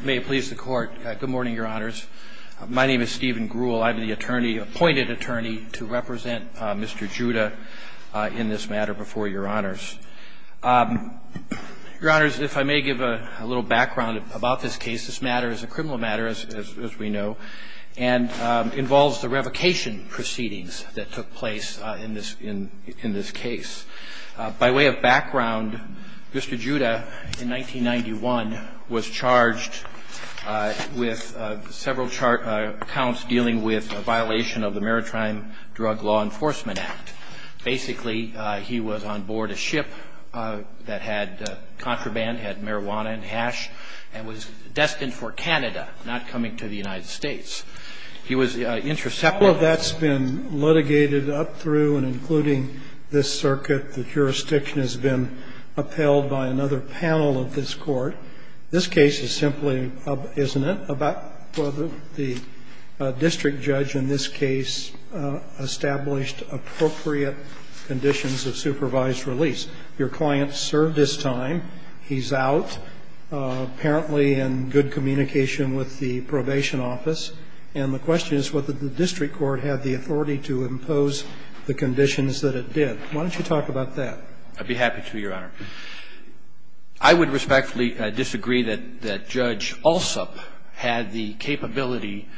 May it please the court. Good morning, Your Honors. My name is Stephen Grewal. I'm the attorney, appointed attorney, to represent Mr. Juda in this matter before Your Honors. Your Honors, if I may give a little background about this case. This matter is a criminal matter, as we know, and involves the revocation proceedings that took place in this case. By way of background, Mr. Juda, in 1991, was charged with several counts dealing with a violation of the Maritime Drug Law Enforcement Act. Basically, he was on board a ship that had contraband, had marijuana and hash, and was destined for Canada, not coming to the United States. He was intercepted. Well, that's been litigated up through and including this circuit. The jurisdiction has been upheld by another panel of this Court. This case is simply, isn't it, about whether the district judge in this case established appropriate conditions of supervised release. Your client served his time. He's out, apparently in good communication with the probation office. And the question is whether the district court had the authority to impose the conditions that it did. Why don't you talk about that? I'd be happy to, Your Honor. I would respectfully disagree that Judge Alsup had the capability,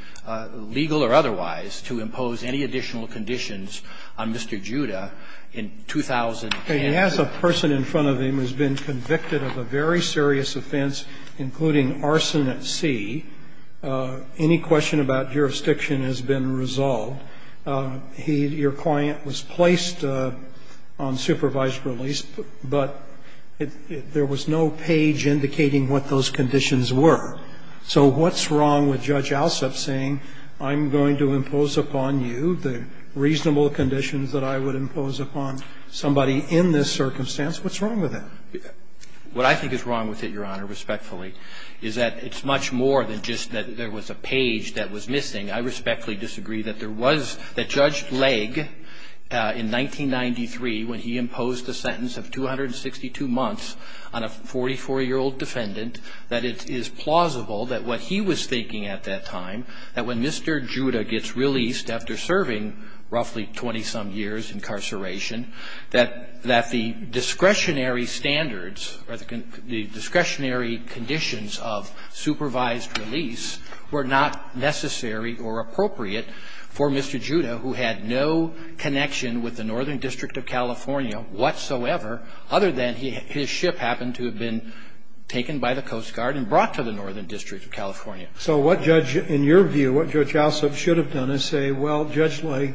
legal or otherwise, to impose any additional conditions on Mr. Juda in 2008. As a person in front of him has been convicted of a very serious offense, including arson at sea, any question about jurisdiction has been resolved. He, your client, was placed on supervised release, but there was no page indicating what those conditions were. So what's wrong with Judge Alsup saying, I'm going to impose upon you the reasonable conditions that I would impose upon somebody in this circumstance? What's wrong with that? What I think is wrong with it, Your Honor, respectfully, is that it's much more than just that there was a page that was missing. I respectfully disagree that there was the Judge Legge in 1993, when he imposed a sentence of 262 months on a 44-year-old defendant, that it is plausible that what he was thinking at that time, that when Mr. Juda gets released after serving roughly 20-some years incarceration, that the discretionary standards or the discretionary conditions of supervised release were not necessary or appropriate for Mr. Juda, who had no connection with the Northern District of California whatsoever, other than his ship happened to have been taken by the Coast Guard and brought to the Northern District of California. So what Judge – in your view, what Judge Alsup should have done is say, well, Judge Legge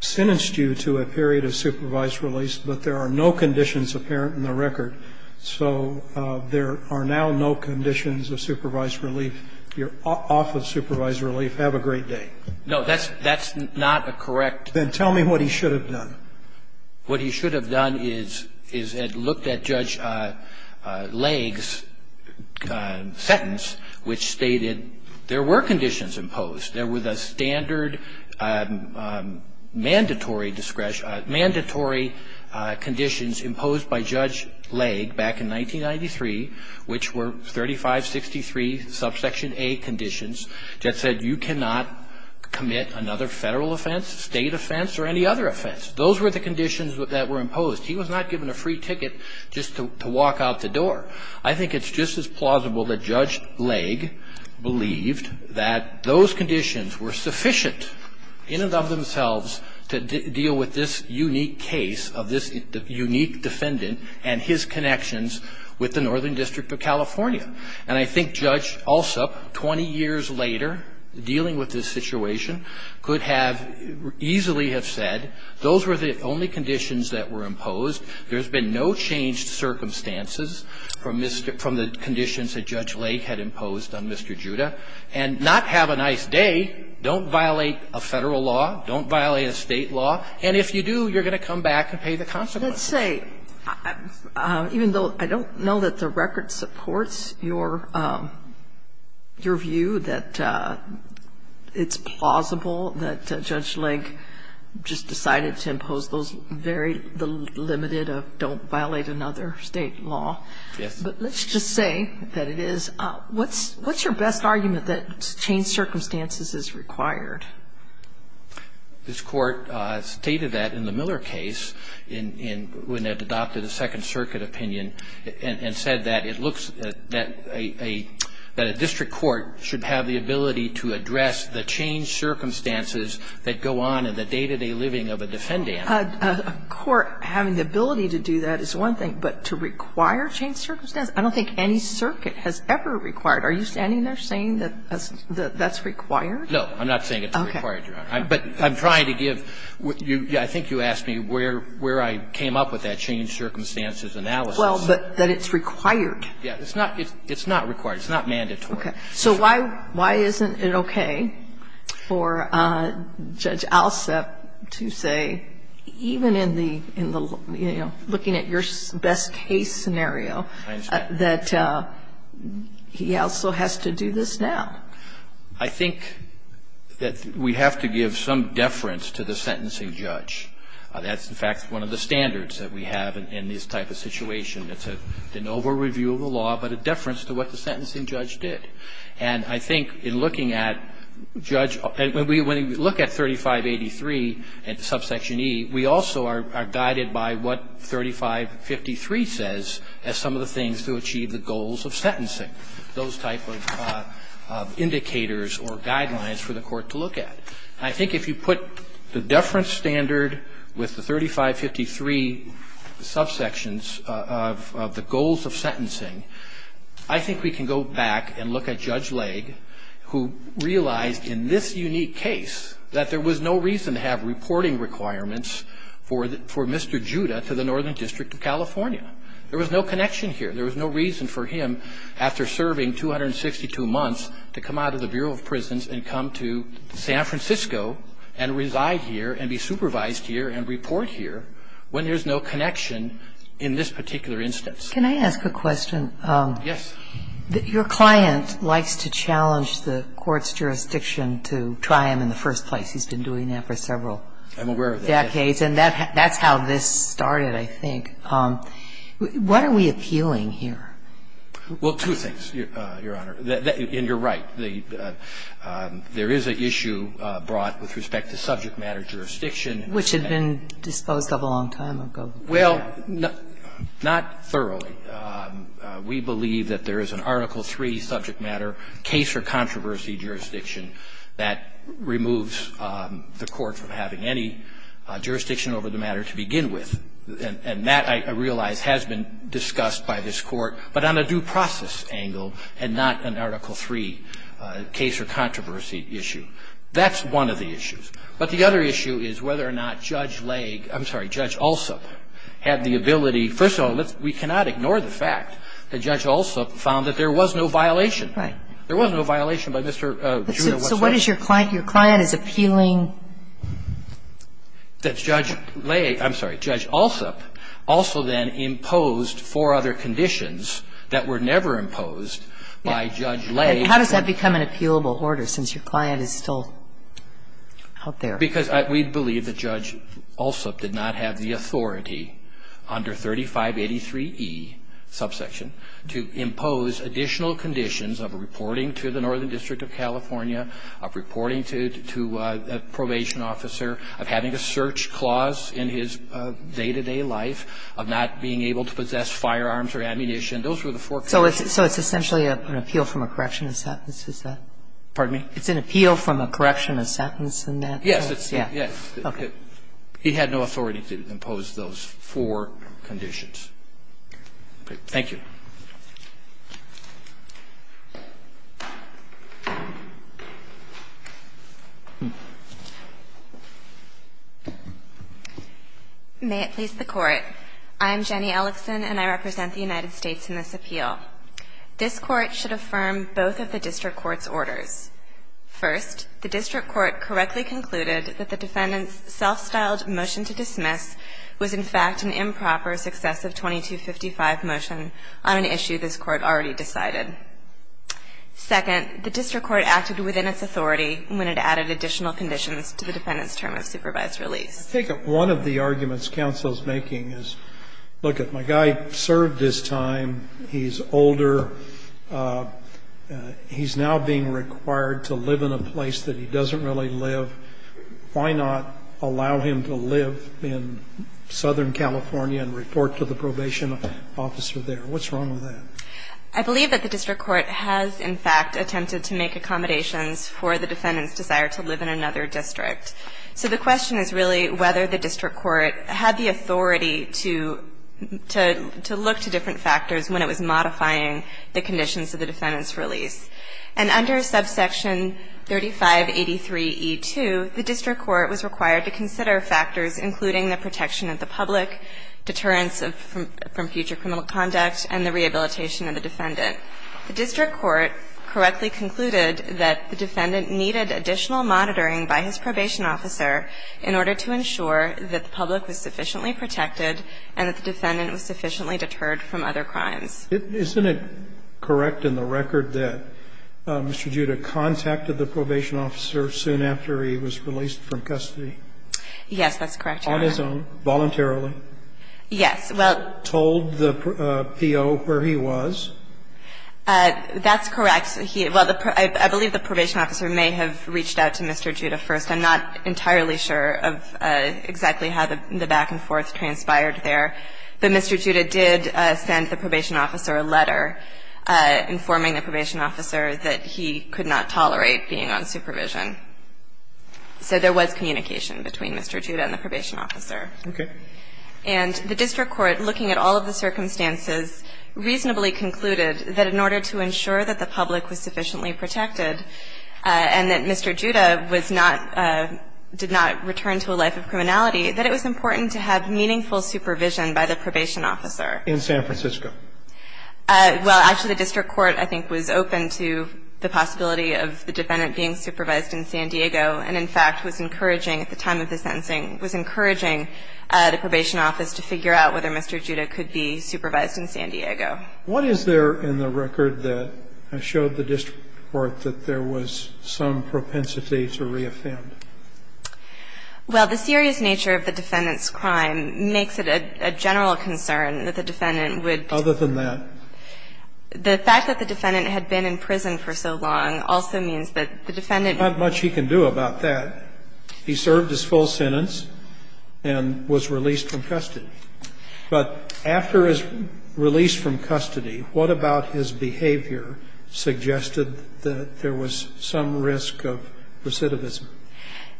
sentenced you to a period of supervised release, but there are no conditions apparent in the record, so there are now no conditions of supervised relief. You're off of supervised relief. Have a great day. No, that's not a correct – Then tell me what he should have done. What he should have done is, is looked at Judge Legge's sentence, which stated there were conditions imposed. There were the standard mandatory conditions imposed by Judge Legge back in 1993, which were 3563 subsection A conditions that said you cannot commit another federal offense, state offense, or any other offense. Those were the conditions that were imposed. He was not given a free ticket just to walk out the door. I think it's just as plausible that Judge Legge believed that those conditions were sufficient in and of themselves to deal with this unique case of this unique defendant and his connections with the Northern District of California. And I think Judge Alsup, 20 years later, dealing with this situation, could have easily have said those were the only conditions that were imposed. There's been no change to circumstances from the conditions that Judge Legge had imposed on Mr. Judah. And not have a nice day. Don't violate a federal law. Don't violate a state law. And if you do, you're going to come back and pay the consequences. Let's say, even though I don't know that the record supports your view that it's plausible that Judge Legge just decided to impose those very limited of don't violate another state law. Yes. But let's just say that it is. What's your best argument that change circumstances is required? This Court stated that in the Miller case, when it adopted a Second Circuit opinion, and said that it looks that a district court should have the ability to address the change circumstances that go on in the day-to-day living of a defendant. A court having the ability to do that is one thing. But to require change circumstances? I don't think any circuit has ever required. Are you standing there saying that that's required? No. I'm not saying it's required, Your Honor. But I'm trying to give you – I think you asked me where I came up with that change circumstances analysis. Well, but that it's required. Yeah. It's not required. It's not mandatory. Okay. So why isn't it okay? For Judge Alsep to say, even in the – you know, looking at your best-case scenario, that he also has to do this now. I think that we have to give some deference to the sentencing judge. That's, in fact, one of the standards that we have in this type of situation. It's an over-review of the law, but a deference to what the sentencing judge did. And I think in looking at Judge – when we look at 3583 and subsection E, we also are guided by what 3553 says as some of the things to achieve the goals of sentencing, those type of indicators or guidelines for the court to look at. I think if you put the deference standard with the 3553 subsections of the goals of sentencing, you have to look at Judge Legge, who realized in this unique case that there was no reason to have reporting requirements for Mr. Judah to the Northern District of California. There was no connection here. There was no reason for him, after serving 262 months, to come out of the Bureau of Prisons and come to San Francisco and reside here and be supervised here and report here when there's no connection in this particular instance. Can I ask a question? Yes. Your client likes to challenge the court's jurisdiction to try him in the first place. He's been doing that for several decades. I'm aware of that. And that's how this started, I think. What are we appealing here? Well, two things, Your Honor. And you're right. There is an issue brought with respect to subject matter jurisdiction. Which had been disposed of a long time ago. Well, not thoroughly. We believe that there is an Article III subject matter case or controversy jurisdiction that removes the court from having any jurisdiction over the matter to begin with. And that, I realize, has been discussed by this Court, but on a due process angle and not an Article III case or controversy issue. That's one of the issues. But the other issue is whether or not Judge Legge, I'm sorry, Judge Alsop had the ability to do that. And we, first of all, we cannot ignore the fact that Judge Alsop found that there was no violation. Right. There was no violation by Mr. Druda. So what is your client? Your client is appealing? That Judge Legge, I'm sorry, Judge Alsop also then imposed four other conditions that were never imposed by Judge Legge. How does that become an appealable order, since your client is still out there? Because we believe that Judge Alsop did not have the authority under 3583E subsection to impose additional conditions of reporting to the Northern District of California, of reporting to a probation officer, of having a search clause in his day-to-day life, of not being able to possess firearms or ammunition. Those were the four conditions. So it's essentially an appeal from a correction of sentence, is that it? Pardon me? It's an appeal from a correction of sentence in that case? Yes. Yes. Okay. He had no authority to impose those four conditions. Thank you. May it please the Court. I'm Jenny Ellickson, and I represent the United States in this appeal. This Court should affirm both of the district court's orders. First, the district court correctly concluded that the defendant's self-styled motion to dismiss was in fact an improper, successive 2255 motion on an issue this Court already decided. Second, the district court acted within its authority when it added additional conditions to the defendant's term of supervised release. I think one of the arguments counsel is making is, look, my guy served his time, he's older, he's now being required to live in a place that he doesn't really live. Why not allow him to live in Southern California and report to the probation officer there? What's wrong with that? I believe that the district court has, in fact, attempted to make accommodations for the defendant's desire to live in another district. So the question is really whether the district court had the authority to look to different factors when it was modifying the conditions of the defendant's release. And under subsection 3583E2, the district court was required to consider factors including the protection of the public, deterrence from future criminal conduct, and the rehabilitation of the defendant. The district court correctly concluded that the defendant needed additional monitoring by his probation officer in order to ensure that the public was sufficiently protected and that the defendant was sufficiently deterred from other crimes. Isn't it correct in the record that Mr. Judah contacted the probation officer soon after he was released from custody? Yes, that's correct, Your Honor. On his own, voluntarily? Yes. Well, told the PO where he was? That's correct. He – well, I believe the probation officer may have reached out to Mr. Judah first. I'm not entirely sure of exactly how the back-and-forth transpired there. But Mr. Judah did send the probation officer a letter informing the probation officer that he could not tolerate being on supervision. So there was communication between Mr. Judah and the probation officer. Okay. And the district court, looking at all of the circumstances, reasonably concluded that in order to ensure that the public was sufficiently protected and that Mr. Judah was not – did not return to a life of criminality, that it was important to have meaningful supervision by the probation officer. In San Francisco? Well, actually, the district court, I think, was open to the possibility of the defendant being supervised in San Diego and, in fact, was encouraging at the time of the sentencing – was encouraging the probation office to figure out whether Mr. Judah could be supervised in San Diego. What is there in the record that has showed the district court that there was some propensity to reoffend? Well, the serious nature of the defendant's crime makes it a general concern that the defendant would be – Other than that? The fact that the defendant had been in prison for so long also means that the defendant – Not much he can do about that. He served his full sentence and was released from custody. But after his release from custody, what about his behavior suggested that there was some risk of recidivism?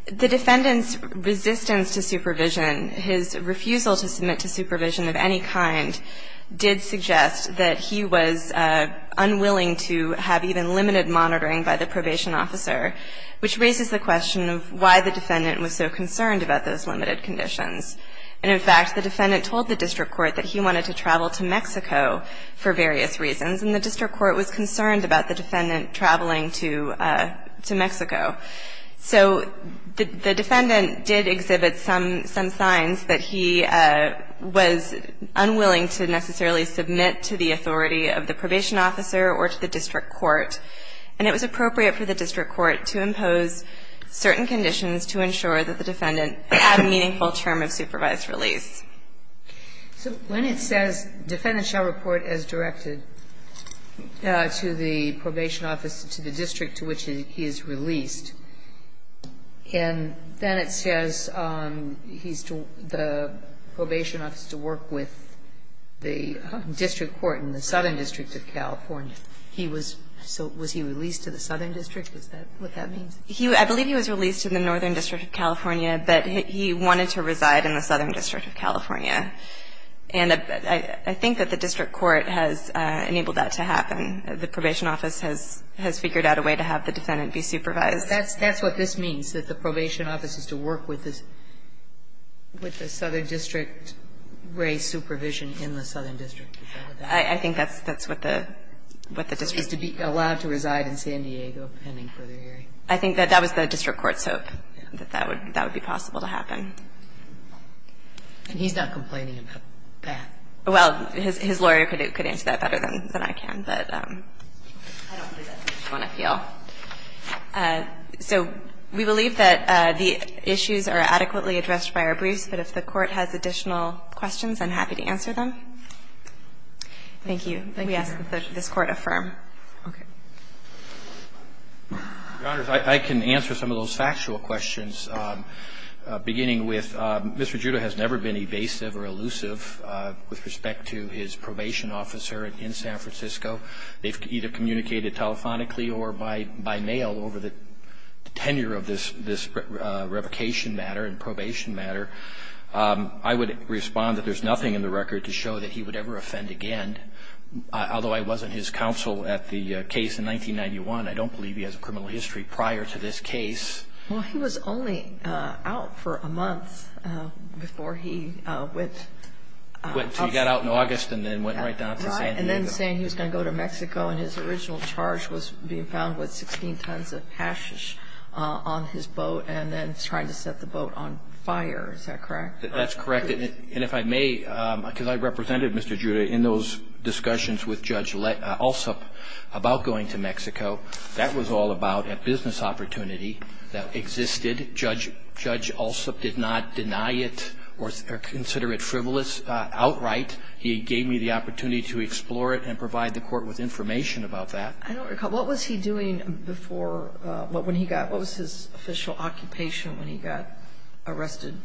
The defendant's resistance to supervision, his refusal to submit to supervision of any kind did suggest that he was unwilling to have even limited monitoring by the probation officer, which raises the question of why the defendant was so concerned about those limited conditions. And in fact, the defendant told the district court that he wanted to travel to Mexico for various reasons, and the district court was concerned about the defendant traveling to Mexico. So the defendant did exhibit some signs that he was unwilling to necessarily submit to the authority of the probation officer or to the district court. And it was appropriate for the district court to impose certain conditions to ensure that the defendant had a meaningful term of supervised release. So when it says, Defendant shall report as directed to the probation office, to the district to which he is released, and then it says he's to the probation office to work with the district court in the Southern District of California, he was – so was he released to the Southern District? Is that what that means? I believe he was released to the Northern District of California, but he wanted to reside in the Southern District of California. And I think that the district court has enabled that to happen. The probation office has figured out a way to have the defendant be supervised. That's what this means, that the probation office is to work with the Southern District, raise supervision in the Southern District. I think that's what the district court says. So he's to be allowed to reside in San Diego, depending on the area. I think that that was the district court's hope, that that would be possible to happen. And he's not complaining about that? Well, his lawyer could answer that better than I can, but I don't think that's the way we want to feel. So we believe that the issues are adequately addressed by our briefs, but if the court has additional questions, I'm happy to answer them. Thank you. We ask that this Court affirm. Okay. Your Honors, I can answer some of those factual questions, beginning with Mr. Giuda has never been evasive or elusive with respect to his probation officer in San Francisco. They've either communicated telephonically or by mail over the tenure of this revocation matter and probation matter. I would respond that there's nothing in the record to show that he would ever have a case in 1991. I don't believe he has a criminal history prior to this case. Well, he was only out for a month before he went up to San Diego. He got out in August and then went right down to San Diego. And then saying he was going to go to Mexico and his original charge was being found with 16 tons of hashish on his boat and then trying to set the boat on fire. Is that correct? That's correct. And if I may, because I represented Mr. Giuda in those discussions with Judge Alsup about going to Mexico, that was all about a business opportunity that existed. Judge Alsup did not deny it or consider it frivolous outright. He gave me the opportunity to explore it and provide the court with information about that. I don't recall. What was he doing before, when he got, what was his official occupation when he got arrested?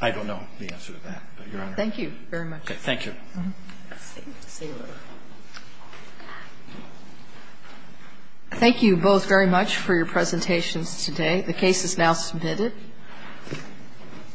I don't know the answer to that, but Your Honor. Thank you very much. Okay, thank you. Thank you both very much for your presentations today. The case is now submitted.